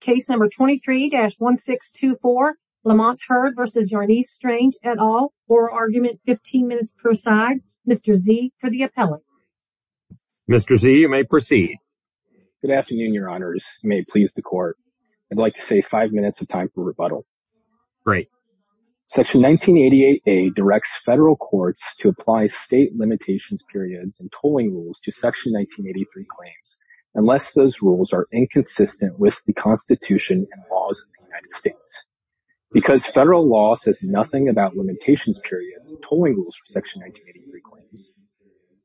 Case number 23-1624, Lamont Heard v. Yarnice Strange et al., oral argument, 15 minutes per side. Mr. Z for the appellate. Mr. Z, you may proceed. Good afternoon, your honors. You may please the court. I'd like to save five minutes of time for rebuttal. Great. Section 1988A directs federal courts to apply state limitations periods and tolling rules to Section 1983 claims unless those rules are inconsistent with the Constitution and laws of the United States. Because federal law says nothing about limitations periods and tolling rules for Section 1983 claims,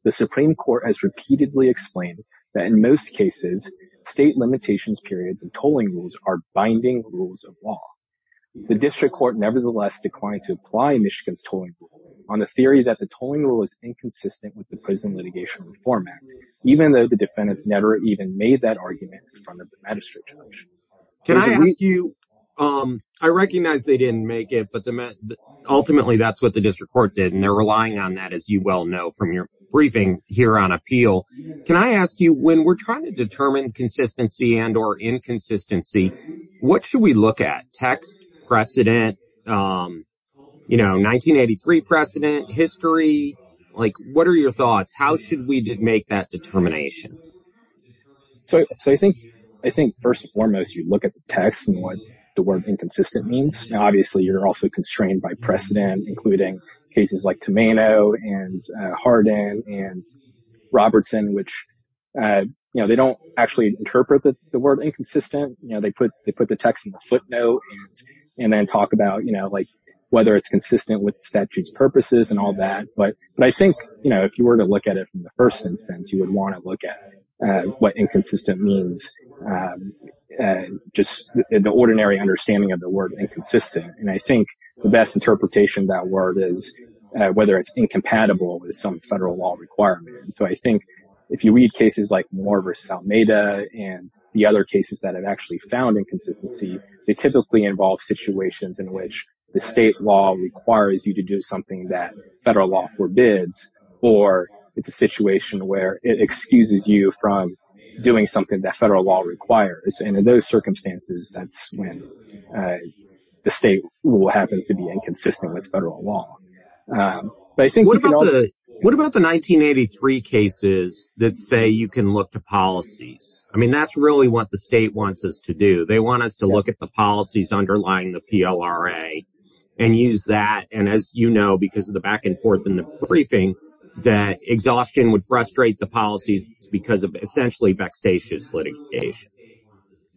the Supreme Court has repeatedly explained that in most cases, state limitations periods and tolling rules are binding rules of law. The district court nevertheless declined to apply Michigan's tolling rule on the theory that the tolling rule is inconsistent with the Prison Litigation Reform Act, even though the defendants never even made that argument in front of the magistrate judge. Can I ask you, I recognize they didn't make it, but ultimately that's what the district court did, and they're relying on that, as you well know from your briefing here on appeal. Can I ask you, when we're trying to determine consistency and or inconsistency, what should we look at? Text? Precedent? You know, 1983 precedent? History? Like, what are your thoughts? How should we make that determination? So I think first and foremost, you look at the text and what the word inconsistent means. Now, obviously, you're also constrained by precedent, including cases like Tomaino and Hardin and Robertson, which, you know, they don't actually interpret the word inconsistent. You know, they put the text in the footnote and then talk about, you know, like, whether it's consistent with statutes purposes and all that. But I think, you know, if you were to look at it from the first instance, you would want to look at what inconsistent means, just the ordinary understanding of the word inconsistent. And I think the best interpretation of that word is whether it's incompatible with some federal law requirement. And so I think if you read cases like Moore versus Almeida and the other cases that have actually found inconsistency, they typically involve situations in which the state law requires you to do something that federal law forbids, or it's a situation where it excuses you from doing something that federal law requires. And in those circumstances, that's when the state happens to be inconsistent with federal law. But I think what about the 1983 cases that say you can look to policies? I mean, that's really what the state wants us to do. They want us to look at the policies underlying the PLRA and use that. And as you know, because of the back and forth in the briefing, that exhaustion would frustrate the policies because of essentially vexatious litigation.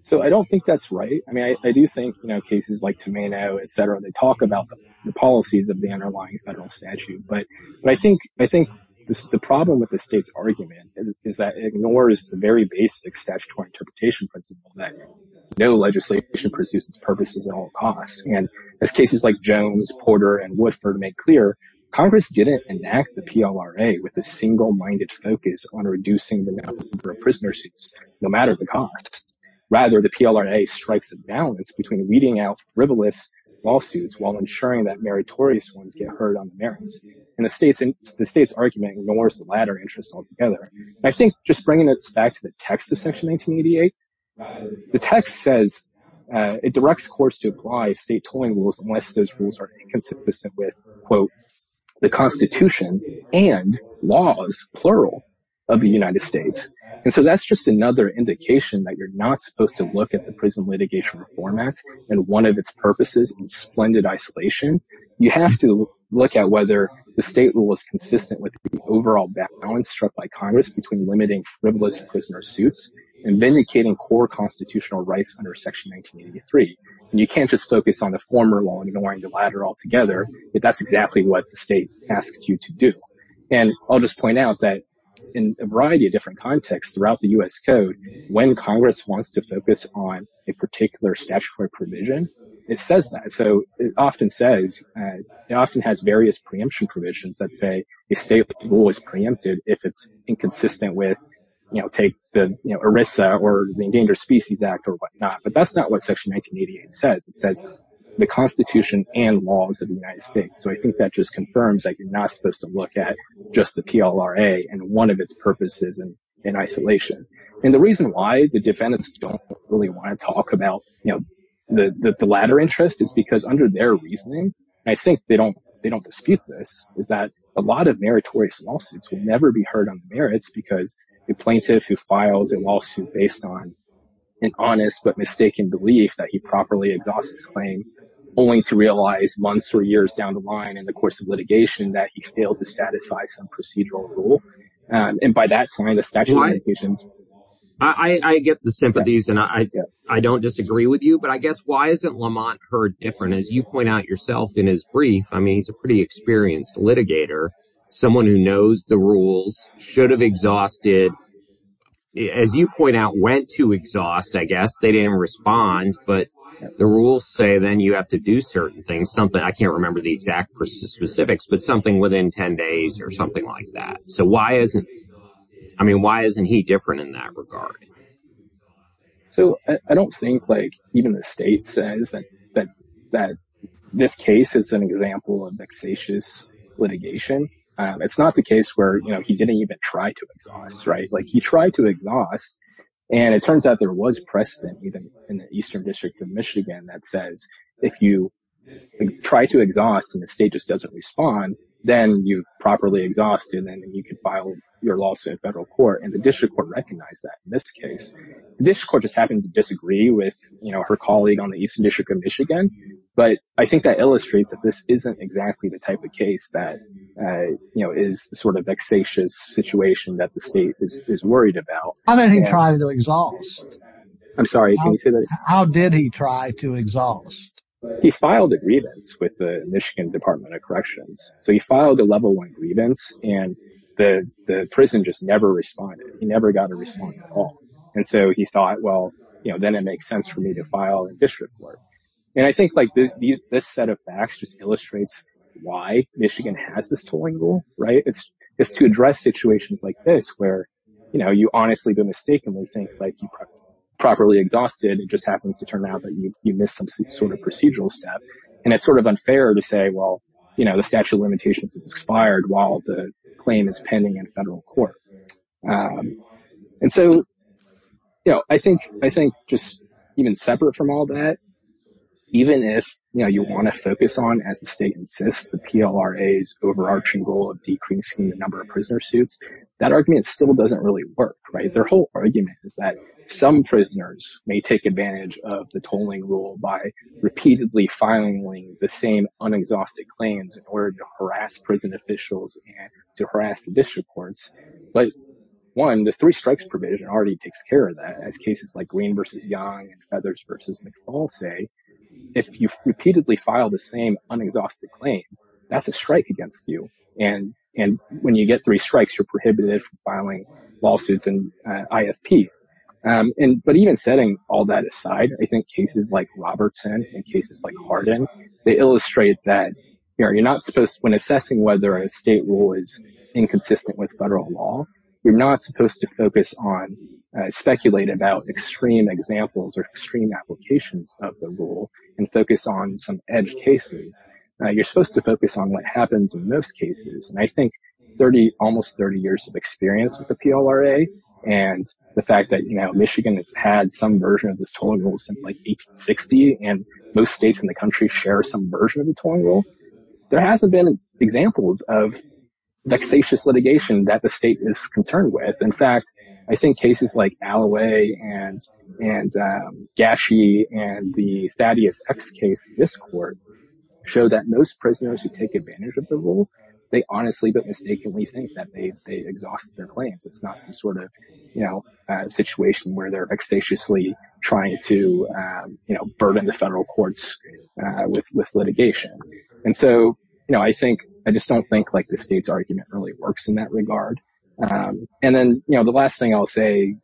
So I don't think that's right. I mean, I do think, you know, cases like Tomaino, they talk about the policies of the underlying federal statute. But I think the problem with the state's argument is that it ignores the very basic statutory interpretation principle that no legislation pursues its purposes at all costs. And as cases like Jones, Porter, and Woodford make clear, Congress didn't enact the PLRA with a single-minded focus on reducing the number of prisoner suits, no matter the cost. Rather, the PLRA strikes a balance between weeding out frivolous lawsuits while ensuring that meritorious ones get heard on the merits. And the state's argument ignores the latter interest altogether. I think just bringing this back to the text of Section 1988, the text says it directs courts to apply state tolling rules unless those rules are inconsistent with, quote, the Constitution and laws, plural, of the United States. And so that's just another indication that you're not supposed to look at Prison Litigation Reform Act and one of its purposes in splendid isolation. You have to look at whether the state rule is consistent with the overall balance struck by Congress between limiting frivolous prisoner suits and vindicating core constitutional rights under Section 1983. And you can't just focus on the former law and ignore the latter altogether, but that's exactly what the state asks you to do. And I'll just point out that in a variety of different contexts throughout the U.S. Code, when Congress wants to focus on a particular statutory provision, it says that. So it often says, it often has various preemption provisions that say a state rule is preempted if it's inconsistent with, you know, take the ERISA or the Endangered Species Act or whatnot. But that's not what Section 1988 says. It says the Constitution and laws of the United States. So I think that just confirms that you're not supposed to look at just the PLRA and one of its purposes in isolation. And the reason why the defendants don't really want to talk about, you know, the latter interest is because under their reasoning, I think they don't dispute this, is that a lot of meritorious lawsuits will never be heard on merits because the plaintiff who files a lawsuit based on an honest but mistaken belief that he properly exhausts his claim only to realize months or years down the line in the course of litigation that he failed to satisfy some procedural rule. And by that time, the statute of limitations. I get the sympathies, and I don't disagree with you, but I guess why isn't Lamont Heard different? As you point out yourself in his brief, I mean, he's a pretty experienced litigator, someone who knows the rules, should have exhausted, as you point out, went to exhaust, I guess. They didn't respond. But the rules say then you have to do certain things, I can't remember the exact specifics, but something within 10 days or something like that. So why isn't, I mean, why isn't he different in that regard? So I don't think like even the state says that this case is an example of vexatious litigation. It's not the case where, you know, he didn't even try to exhaust, right? Like he tried to exhaust, and it turns out there was precedent even in the Eastern District of Michigan that says if you try to exhaust and the state just doesn't respond, then you properly exhaust, and then you can file your lawsuit in federal court. And the district court recognized that in this case. The district court just happened to disagree with, you know, her colleague on the Eastern District of Michigan. But I think that illustrates that this isn't exactly the type of case that, you know, is the sort of vexatious situation that the state is worried about. How did he try to exhaust? I'm sorry, can you say that again? How did he try to exhaust? He filed a grievance with the Michigan Department of Corrections. So he filed a level one grievance, and the prison just never responded. He never got a response at all. And so he thought, well, you know, then it makes sense for me to file a district court. And I think like this set of facts just illustrates why Michigan has this tolling rule, right? It's to address situations like this, where, you know, you honestly go mistakenly think like you properly exhausted, it just happens to turn out that you missed some sort of procedural step. And it's sort of unfair to say, well, you know, the statute of limitations is expired while the claim is pending in federal court. And so, you know, I think just even separate from all that, even if, you know, you want to focus on, as the state insists, the PLRA's overarching goal of decreasing the number of prisoner suits, that argument still doesn't really work, right? Their whole argument is that some prisoners may take advantage of the tolling rule by repeatedly filing the same un-exhausted claims in order to harass prison officials and to harass the district courts. But one, the three strikes provision already takes care of that. As cases like Green v. Young and Feathers v. McFall say, if you've repeatedly filed the same un-exhausted claim, that's a strike against you. And when you get three strikes, you're prohibited from filing lawsuits in IFP. But even setting all that aside, I think cases like Robertson and cases like Hardin, they illustrate that, you know, you're not supposed, when assessing whether a state rule is inconsistent with federal law, you're not supposed to focus on, speculate about extreme examples or extreme applications of the rule and focus on some edge cases. You're supposed to focus on what happens in most cases. And I think 30, almost 30 years of experience with the PLRA and the fact that, you know, Michigan has had some version of this tolling rule since like 1860 and most states in the country share some version of the tolling rule, there hasn't been examples of vexatious litigation that the state is concerned with. In fact, I think cases like Alloway and Gashie and the Thaddeus X case in this court show that most prisoners who take advantage of the rule, they honestly but mistakenly think that they exhaust their claims. It's not some sort of, you know, situation where they're vexatiously trying to, you know, burden the federal courts with litigation. And so, you know, I think, I just don't think like the state's argument really works in that regard. And then, you know, the last thing I'll say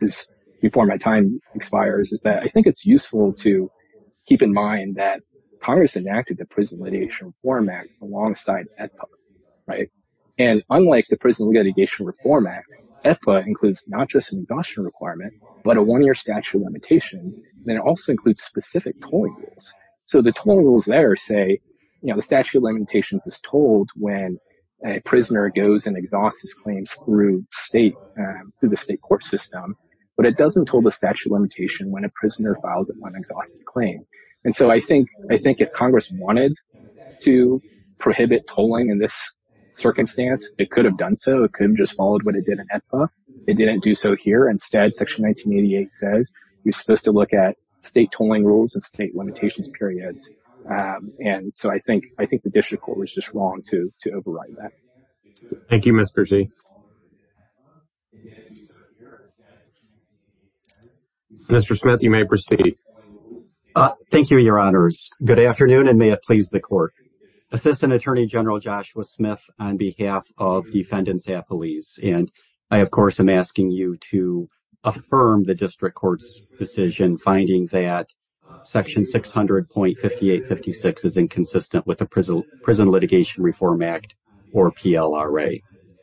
is before my time expires is that I think it's useful to keep in mind that Congress enacted the Prison Litigation Reform Act alongside AEDPA, right? And unlike the Prison Litigation Reform Act, AEDPA includes not just an exhaustion requirement, but a one-year statute of limitations, and it also includes specific tolling rules. So the tolling rules there say, you know, the statute of limitations is told when a prisoner goes and exhausts his claims through state, through the state court system, but it doesn't tell the statute of limitation when a prisoner files an unexhausted claim. And so I think if Congress wanted to prohibit tolling in this circumstance, it could have done so. It could have just followed what it did in AEDPA. It didn't do so here. Instead, Section 1988 says you're supposed to look at state tolling rules and state limitations periods. And so I think the district court was just wrong to override that. Thank you, Mr. Z. Mr. Smith, you may proceed. Thank you, your honors. Good afternoon, and may it please the court. Assistant Attorney General Joshua Smith on behalf of defendants at police. And I, of course, am asking you to affirm the district court's decision finding that Section 600.5856 is inconsistent with the Prison Litigation Reform Act or PLRA.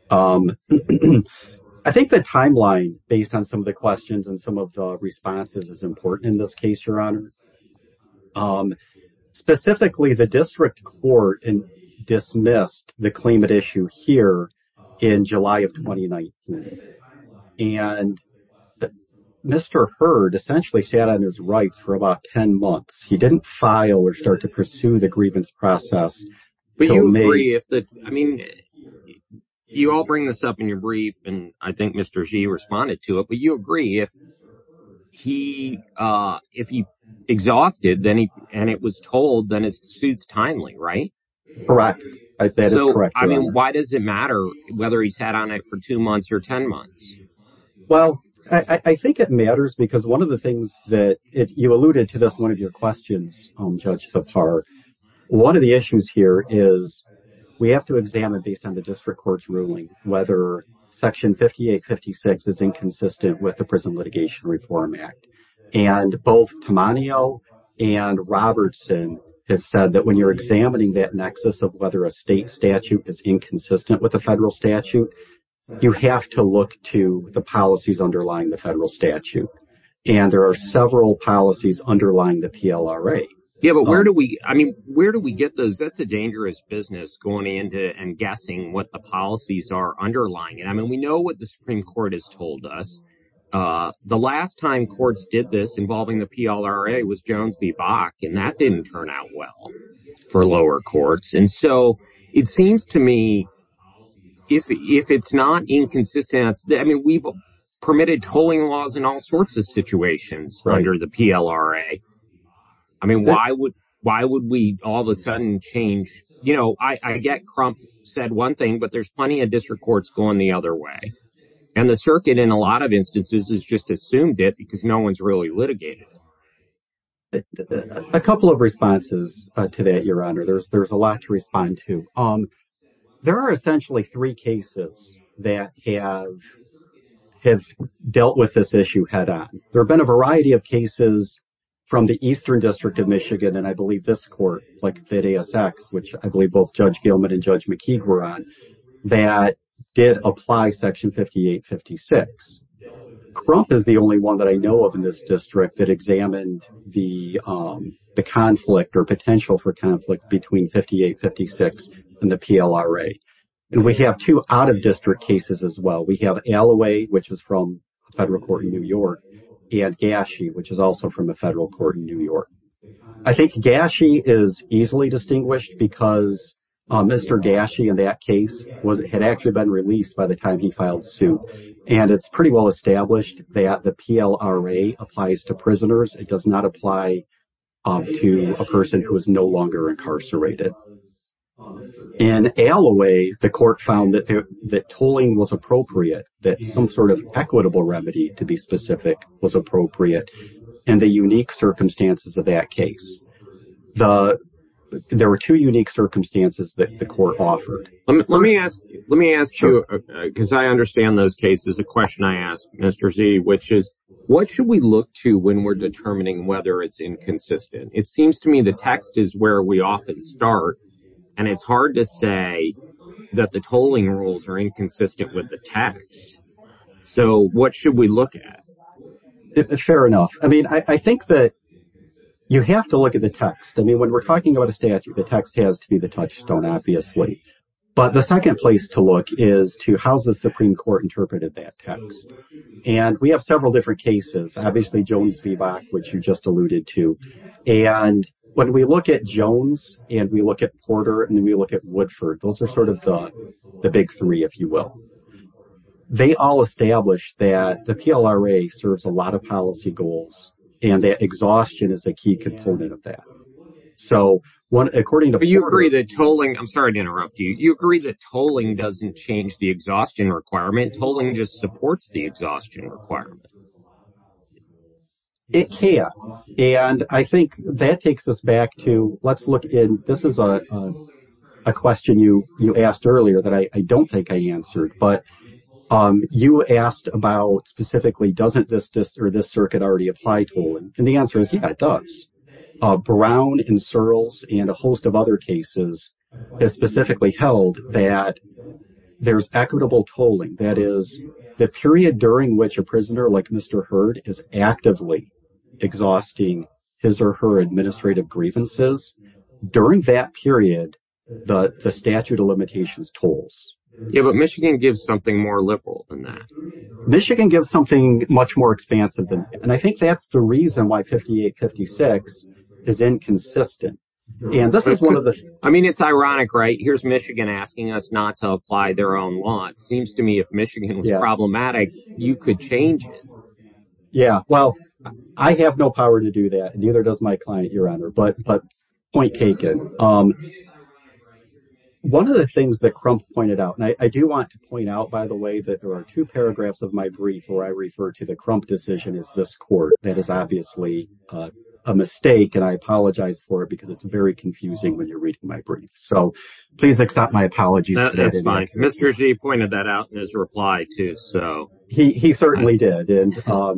I think the timeline based on some of the questions and some of the responses is important in this case, your honor. Specifically, the district court dismissed the claimant issue here in July of 2019. And Mr. Hurd essentially sat on his rights for about 10 months. He didn't file or start pursue the grievance process. You all bring this up in your brief, and I think Mr. Z responded to it. But you agree if he exhausted and it was tolled, then it suits timely, right? Correct. That is correct. I mean, why does it matter whether he sat on it for two months or 10 months? Well, I think it matters because one of the things that you alluded to this one of your questions, Judge Zappar, one of the issues here is we have to examine based on the district court's ruling whether Section 5856 is inconsistent with the Prison Litigation Reform Act. And both Tammanio and Robertson have said that when you're examining that nexus of whether a state statute is inconsistent with the federal statute, you have to look to the policies underlying the PLRA. Yeah, but where do we I mean, where do we get those? That's a dangerous business going into and guessing what the policies are underlying. And I mean, we know what the Supreme Court has told us. The last time courts did this involving the PLRA was Jones v. Bach, and that didn't turn out well for lower courts. And so it seems to me if it's not inconsistent, I mean, we've permitted tolling laws in all sorts of situations under the PLRA. I mean, why would we all of a sudden change? You know, I get Crump said one thing, but there's plenty of district courts going the other way. And the circuit in a lot of instances has just assumed it because no one's really litigated. A couple of responses to that, Your Honor. There's a lot to respond to. There are essentially three cases that have dealt with this issue head on. There have been a variety of cases from the Eastern District of Michigan, and I believe this court, like ASX, which I believe both Judge Gilman and Judge McKeague were on, that did apply Section 5856. Crump is the only one that I know of in this district that examined the conflict or potential for conflict between 5856 and the PLRA. And we have two out-of-district cases as well. We have Alloway, which is from a federal court in New York, and Gashie, which is also from a federal court in New York. I think Gashie is easily distinguished because Mr. Gashie in that case had actually been released by the time he filed suit. And it's pretty well established that the PLRA applies to not apply to a person who is no longer incarcerated. In Alloway, the court found that tolling was appropriate, that some sort of equitable remedy, to be specific, was appropriate, and the unique circumstances of that case. There were two unique circumstances that the court offered. Let me ask you, because I understand those cases, a question I asked Mr. Z, which is, what should we look to when we're determining whether it's inconsistent? It seems to me the text is where we often start, and it's hard to say that the tolling rules are inconsistent with the text. So, what should we look at? Fair enough. I mean, I think that you have to look at the text. I mean, when we're talking about a statute, the text has to be the touchstone, obviously. But the second place to look is to, how's the Supreme Court interpreted that text? And we have several different cases. Obviously, Jones v. Bach, which you just alluded to. And when we look at Jones, and we look at Porter, and then we look at Woodford, those are sort of the big three, if you will. They all establish that the PLRA serves a lot of policy goals, and that exhaustion is a key component of that. So, according to Porter— But you agree that tolling—I'm sorry to interrupt you—you agree that tolling doesn't change the exhaustion requirement. Tolling just supports the exhaustion requirement. It can. And I think that takes us back to, let's look in—this is a question you asked earlier that I don't think I answered. But you asked about, specifically, doesn't this circuit already apply tolling? And the answer is, yeah, it does. Brown and Searles and a host of other cases have specifically held that there's equitable tolling. That is, the period during which a prisoner, like Mr. Hurd, is actively exhausting his or her administrative grievances, during that period, the statute of limitations tolls. Yeah, but Michigan gives something more liberal than that. Michigan gives something much more expansive. And I think that's the reason why 5856 is inconsistent. And this is one of the— I mean, it's ironic, right? Here's Michigan asking us not to apply their own law. It seems to me if Michigan was problematic, you could change it. Yeah, well, I have no power to do that. Neither does my client, Your Honor. But point taken. One of the things that Crump pointed out—and I do want to point out, by the way, that there are two paragraphs of my brief where I refer to Crump decision as this court. That is obviously a mistake, and I apologize for it because it's very confusing when you're reading my brief. So please accept my apologies. That's fine. Mr. G pointed that out in his reply, too, so. He certainly did. And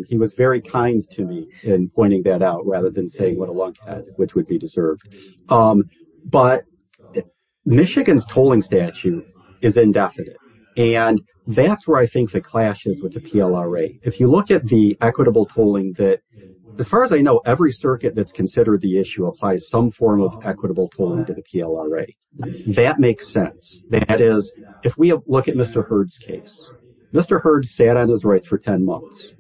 he was very kind to me in pointing that out rather than saying what a lunkhead, which would be deserved. But Michigan's tolling statute is indefinite. And that's where I think the clash is with the PLRA. If you look at the equitable tolling that—as far as I know, every circuit that's considered the issue applies some form of equitable tolling to the PLRA. That makes sense. That is, if we look at Mr. Hurd's case, Mr. Hurd sat on his rights for 10 months.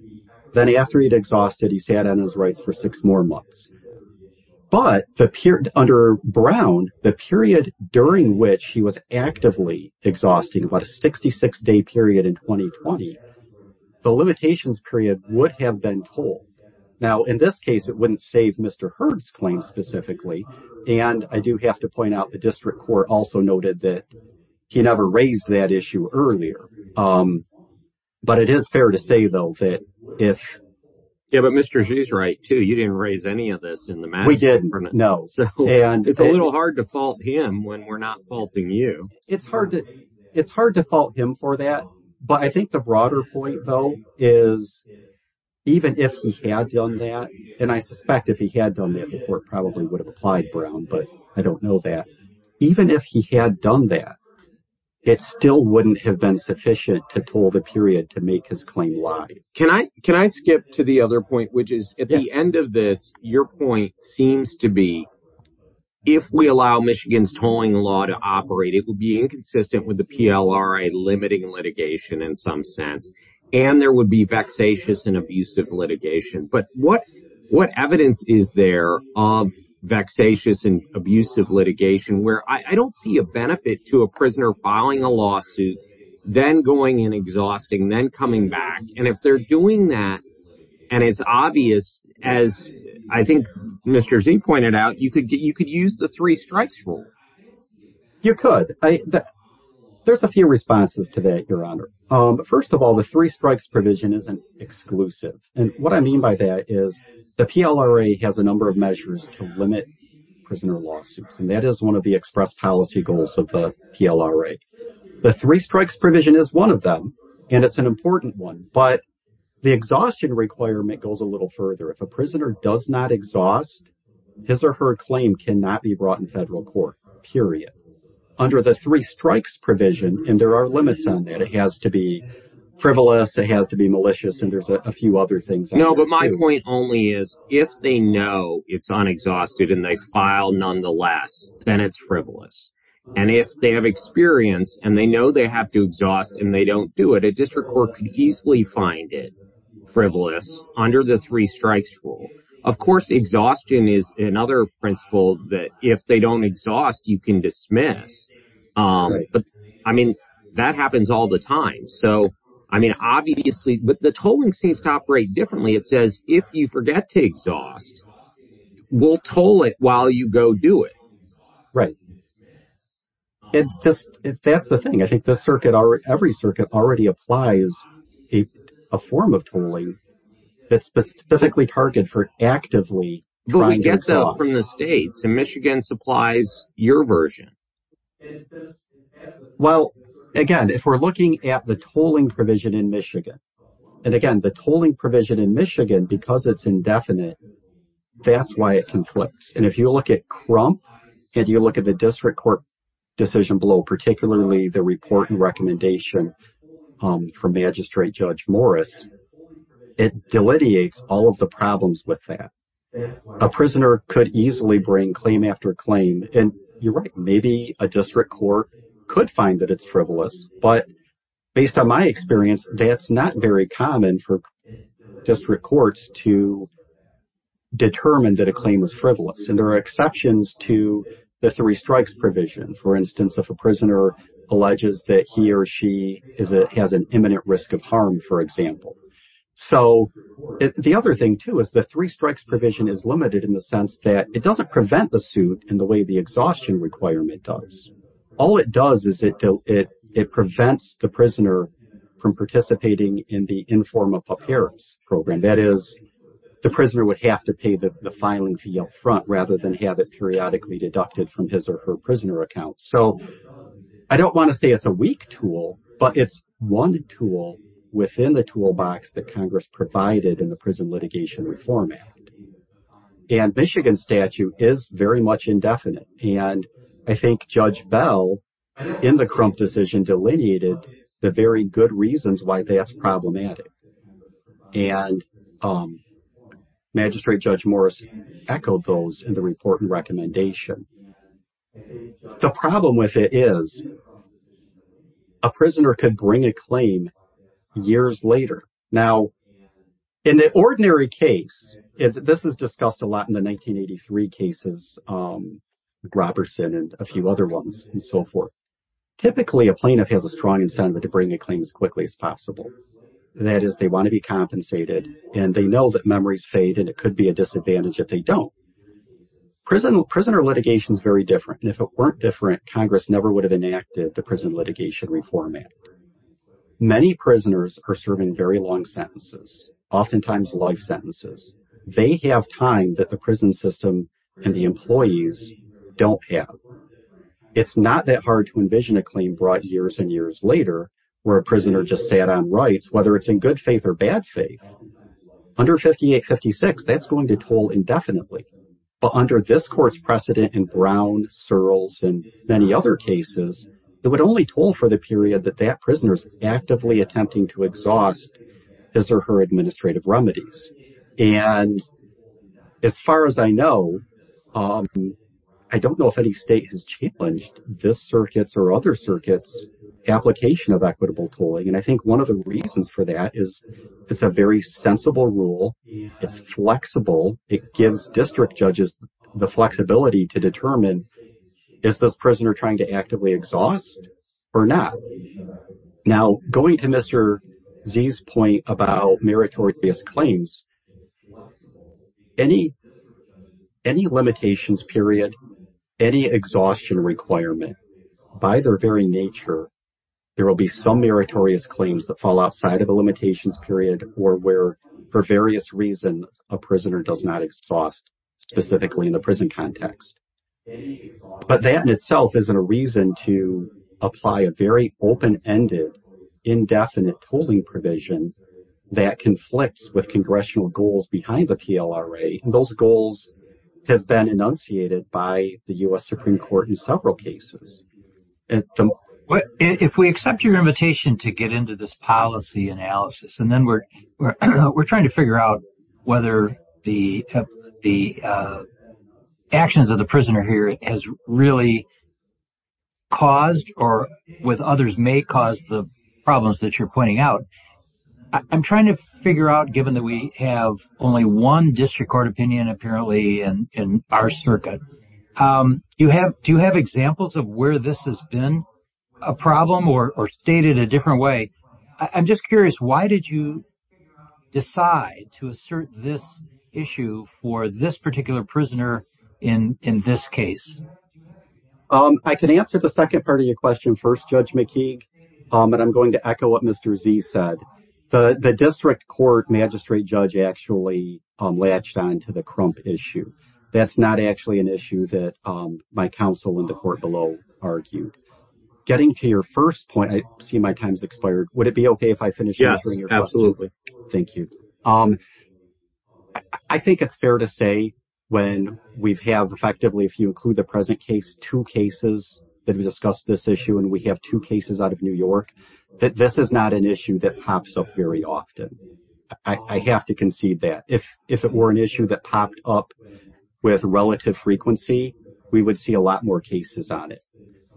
Then after he'd exhausted, he sat on his rights for six more months. But under Brown, the period during which he was actively exhausting, about a 66-day period in 2020, the limitations period would have been full. Now, in this case, it wouldn't save Mr. Hurd's claim specifically. And I do have to point out the district court also noted that he never raised that issue earlier. But it is fair to say, though, that if— Yeah, but Mr. G's right, too. You didn't raise any of this in the match. We didn't. No. And— It's a little hard to fault him when we're not faulting you. It's hard to fault him for that. But I think the broader point, though, is even if he had done that, and I suspect if he had done that before, it probably would have applied Brown, but I don't know that. Even if he had done that, it still wouldn't have been sufficient to toll the period to make his claim live. Can I skip to the other point, which is, at the end of this, your point seems to be, if we allow Michigan's tolling law to operate, it would be inconsistent with the PLRA limiting litigation in some sense. And there would be vexatious and abusive litigation. But what evidence is there of vexatious and abusive litigation where I don't see a benefit to a prisoner filing a lawsuit, then going and exhausting, then coming back. And if they're doing that, and it's obvious, as I think Mr. Zink pointed out, you could use the three strikes rule. You could. There's a few responses to that, Your Honor. First of all, the three strikes provision isn't exclusive. And what I mean by that is the PLRA has a number of measures to limit prisoner lawsuits. And that is one of the express policy goals of the PLRA. The three strikes provision is one of them, and it's an important one. But the exhaustion requirement goes a little further. If a prisoner does not exhaust, his or her claim cannot be brought in federal court, period, under the three strikes provision. And there are limits on that. It has to be frivolous. It has to be malicious. And there's a few other things. No, but my point only is if they know it's unexhausted and they file nonetheless, then it's frivolous. And if they have experience and they know they have to exhaust and they don't do it, a district court could easily find it frivolous under the three strikes rule. Of course, exhaustion is another principle that if they don't exhaust, you can dismiss. But I mean, that happens all the time. So I mean, obviously, but the tolling seems to operate differently. It says if you forget to exhaust, we'll toll it while you go do it. Right. That's the thing. I think every circuit already applies a form of tolling that's specifically targeted for actively trying to exhaust. But we get that from the states, and Michigan supplies your version. Well, again, if we're looking at the tolling provision in Michigan, and again, the tolling provision in Michigan, because it's indefinite, that's why it conflicts. And if you look at Crump and you look at the district court decision below, particularly the report and recommendation from Magistrate Judge Morris, it delineates all of the problems with that. A prisoner could easily bring claim after claim. And you're right. Maybe a district court could find that it's frivolous. But based on my experience, that's not very common for district courts to determine that a claim is frivolous. And there are exceptions to the three strikes provision, for instance, if a prisoner alleges that he or she has an imminent risk of harm, for example. So the other thing, too, is the three strikes provision is limited in the sense that it doesn't prevent the suit in the way exhaustion requirement does. All it does is it prevents the prisoner from participating in the inform of appearance program. That is, the prisoner would have to pay the filing fee up front rather than have it periodically deducted from his or her prisoner account. So I don't want to say it's a weak tool, but it's one tool within the toolbox that Congress provided in the Prison Litigation Reform Act. And Michigan statute is very much indefinite. And I think Judge Bell in the Crump decision delineated the very good reasons why that's problematic. And Magistrate Judge Morris echoed those in the report and recommendation. The problem with it is a prisoner could bring a claim years later. Now, in the ordinary case, this is discussed a lot in the 1983 cases, Robertson and a few other ones and so forth. Typically, a plaintiff has a strong incentive to bring a claim as quickly as possible. That is, they want to be compensated and they know that memories fade and it could be a disadvantage if they don't. Prisoner litigation is very different. And if it weren't different, Congress never would have enacted the Prison Litigation Reform Act. Many prisoners are serving very long sentences, oftentimes life sentences. They have time that the prison system and the employees don't have. It's not that hard to envision a claim brought years and years later where a prisoner just sat on rights, whether it's in good faith or bad faith. Under 5856, that's going to toll indefinitely. But under this court's precedent in Brown, Searles, and many other cases, it would only toll for the period that that prisoner's actively attempting to exhaust his or her administrative remedies. And as far as I know, I don't know if any state has challenged this circuit's or other circuits' application of equitable tolling. And I think one of the reasons for that is it's a very sensible rule. It's going to determine, is this prisoner trying to actively exhaust or not? Now, going to Mr. Z's point about meritorious claims, any limitations period, any exhaustion requirement, by their very nature, there will be some meritorious claims that fall outside of a limitations period or where, for various reasons, a prisoner does not exhaust specifically in the context. But that in itself isn't a reason to apply a very open-ended, indefinite tolling provision that conflicts with congressional goals behind the PLRA. Those goals have been enunciated by the U.S. Supreme Court in several cases. If we accept your invitation to get into this analysis, and then we're trying to figure out whether the actions of the prisoner here has really caused or, with others, may cause the problems that you're pointing out, I'm trying to figure out, given that we have only one district court opinion, apparently, in our circuit, do you have examples of where this has been a problem or stated a different way? I'm just curious, why did you decide to assert this issue for this particular prisoner in this case? I can answer the second part of your question first, Judge McKeague, but I'm going to echo what Mr. Z said. The district court magistrate judge actually latched onto the crump issue. That's not actually an issue that my counsel in the court below argued. Getting to your first point, I see my time's expired. Would it be okay if I finish answering your question? Yes, absolutely. Thank you. I think it's fair to say when we have, effectively, if you include the present case, two cases that have discussed this issue, and we have two cases out of New York, that this is not an issue that pops up very often. I have to concede that. If it were an issue that popped up with relative frequency, we would see a lot more cases on it.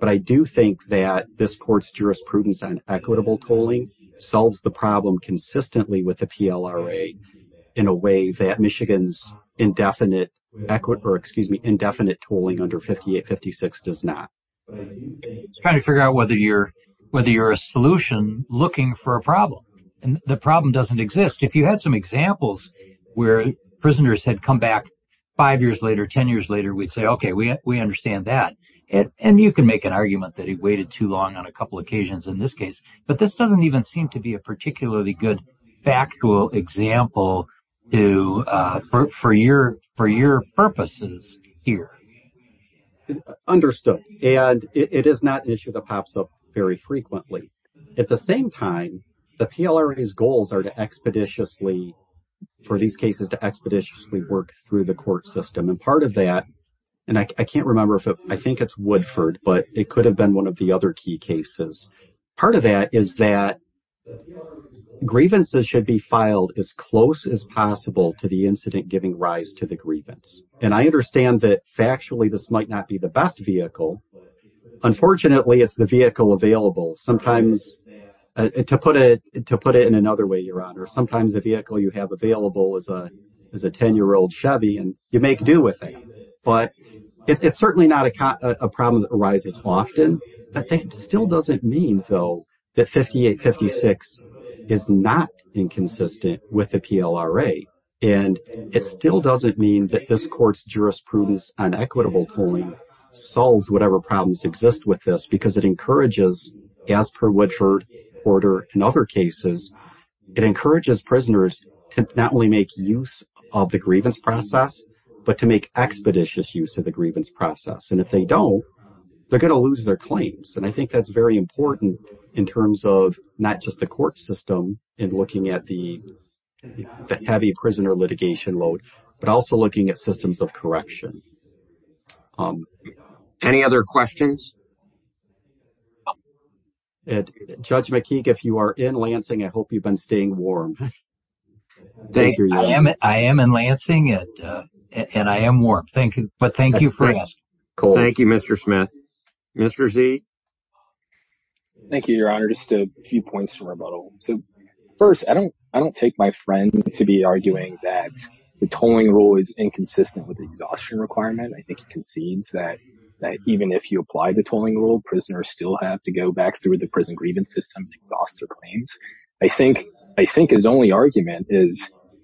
But I do think that this court's jurisprudence on equitable tolling solves the problem consistently with the PLRA in a way that Michigan's indefinite tolling under 5856 does not. It's trying to figure out whether you're a solution looking for a problem. The problem doesn't exist. If you had some examples where prisoners had come back five years later, 10 years later, we'd say, okay, we understand that. You can make an argument that he waited too long on a couple of occasions in this case. But this doesn't even seem to be a particularly good factual example for your purposes here. Understood. It is not an issue that pops up very frequently. At the same time, the PLRA's goals are for these cases to expeditiously work through the court system. And part of that, and I can't remember if I think it's Woodford, but it could have been one of the other key cases. Part of that is that grievances should be filed as close as possible to the incident giving rise to the grievance. And I understand that factually, this might not be the best vehicle. Unfortunately, it's the vehicle available. Sometimes, to put it in another way, Your Honor, sometimes the vehicle you have available is a 10-year-old Chevy and you make do with it. But it's certainly not a problem that arises often. That still doesn't mean, though, that 5856 is not inconsistent with the PLRA. And it still doesn't mean that this court's jurisprudence on equitable tolling solves whatever problems exist with this because it encourages, as per Woodford, Porter, and other cases, it encourages prisoners to not only make use of the grievance process, but to make expeditious use of the grievance process. And if they don't, they're going to lose their claims. And I think that's very important in terms of not just the court system in looking at the heavy prisoner litigation load, but also looking at systems of correction. Any other questions? Judge McKeague, if you are in Lansing, I hope you've been staying warm. Thank you. I am in Lansing, and I am warm. Thank you. But thank you for that. Thank you, Mr. Smith. Mr. Zee? Thank you, Your Honor. Just a few points from rebuttal. So, first, I don't take my friend to be arguing that the tolling rule is inconsistent with the exhaustion requirement. I think it applies to the tolling rule. Prisoners still have to go back through the prison grievance system and exhaust their claims. I think his only argument is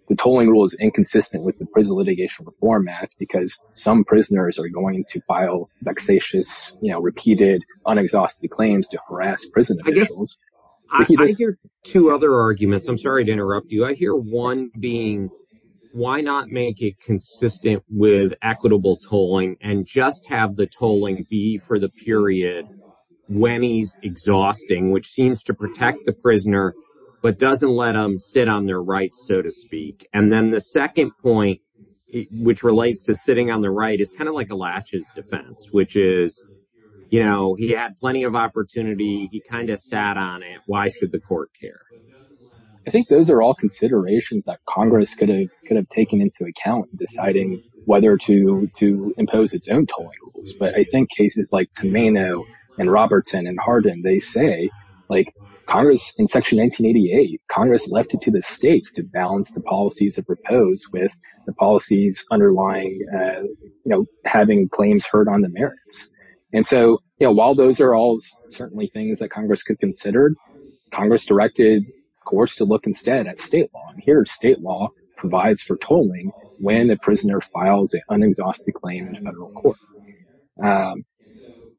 the tolling rule is inconsistent with the prison litigation reform act because some prisoners are going to file vexatious, you know, repeated, unexhausted claims to harass prison officials. I hear two other arguments. I'm sorry to interrupt you. I hear one being, why not make it consistent with equitable tolling and just have the tolling be for the period when he's exhausting, which seems to protect the prisoner, but doesn't let them sit on their rights, so to speak. And then the second point, which relates to sitting on the right, is kind of like a latches defense, which is, you know, he had plenty of opportunity. He kind of sat on it. Why should the court care? I think those are all considerations that Congress could have taken into account deciding whether to impose its own tolling rules. But I think cases like Tomeno and Robertson and Hardin, they say, like Congress in section 1988, Congress left it to the states to balance the policies that proposed with the policies underlying, you know, having claims heard on the merits. And so, you know, while those are all certainly things that Congress could consider, Congress directed courts to look instead at state law. And here, state law provides for tolling when the prisoner files an unexhausted claim in a federal court.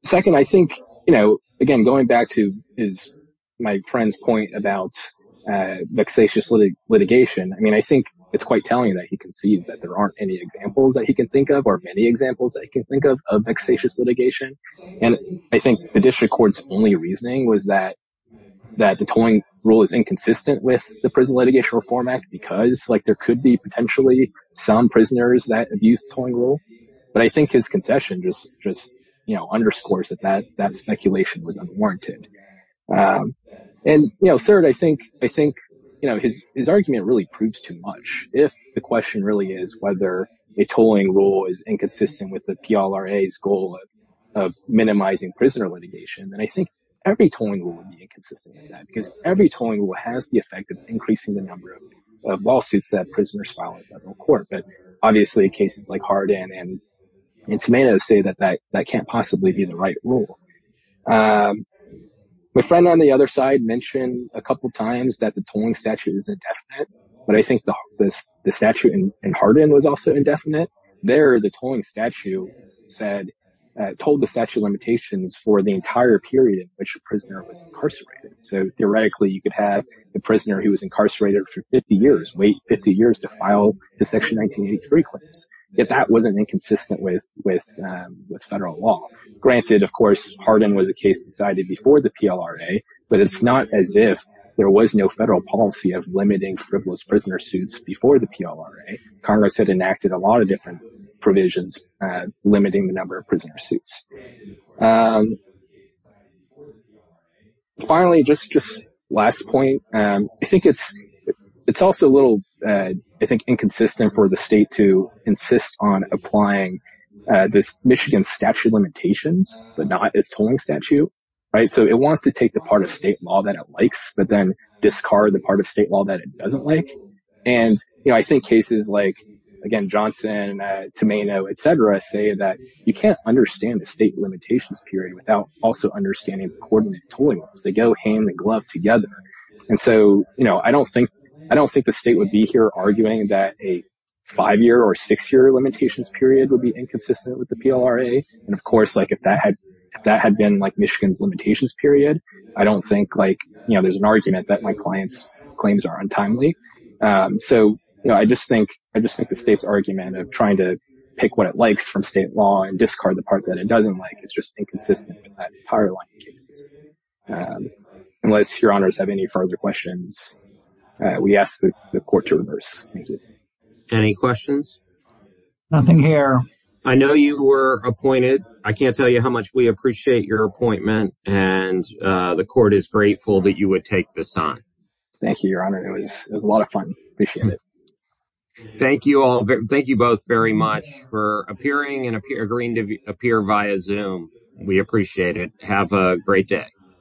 Second, I think, you know, again, going back to my friend's point about vexatious litigation, I mean, I think it's quite telling that he concedes that there aren't any examples that he can think of, or many examples that he can think of, of vexatious litigation. And I think the district court's only reasoning was that the tolling rule is inconsistent with the Prison Litigation Reform Act because, like, there could be potentially some prisoners that abuse the tolling rule. But I think his concession just, you know, underscores that that speculation was unwarranted. And, you know, third, I think, you know, his argument really proves too much if the question really is whether a tolling rule is inconsistent with the PLRA's goal of minimizing prisoner litigation. And I think every tolling rule would be inconsistent with that because every tolling rule has the effect of increasing the number of lawsuits that prisoners file in federal court. But obviously, cases like Hardin and Tomatoes say that that can't possibly be the right rule. My friend on the other side mentioned a couple of times that the tolling statute is indefinite, but I think the statute in Hardin was also indefinite. There, the tolling statute said, told the statute limitations for the entire period in which a prisoner was incarcerated. So theoretically, you could have the prisoner who was incarcerated for 50 years, wait 50 years to file the Section 1983 claims. Yet that wasn't inconsistent with federal law. Granted, of course, Hardin was a case decided before the PLRA, but it's not as if there was no federal policy of limiting frivolous prisoner suits before the PLRA. Congress had enacted a lot different provisions limiting the number of prisoner suits. Finally, just last point, it's also a little inconsistent for the state to insist on applying this Michigan statute limitations, but not its tolling statute. So it wants to take the part of state law that it likes, but then discard the part of state law that it doesn't like. And I think cases like, again, Tomeno, et cetera, say that you can't understand the state limitations period without also understanding the coordinate tolling laws. They go hand in glove together. And so, I don't think the state would be here arguing that a five-year or six-year limitations period would be inconsistent with the PLRA. And of course, if that had been Michigan's limitations period, I don't think there's an argument that my client's claims are untimely. So I just think the state's argument of trying to pick what it likes from state law and discard the part that it doesn't like, it's just inconsistent with that entire line of cases. Unless your honors have any further questions, we ask the court to reverse. Thank you. Any questions? Nothing here. I know you were appointed. I can't tell you how much we appreciate your appointment, and the court is grateful that you would take this on. Thank you, your honor. It was a lot of fun. Appreciate it. Thank you all. Thank you both very much for appearing and agreeing to appear via Zoom. We appreciate it. Have a great day.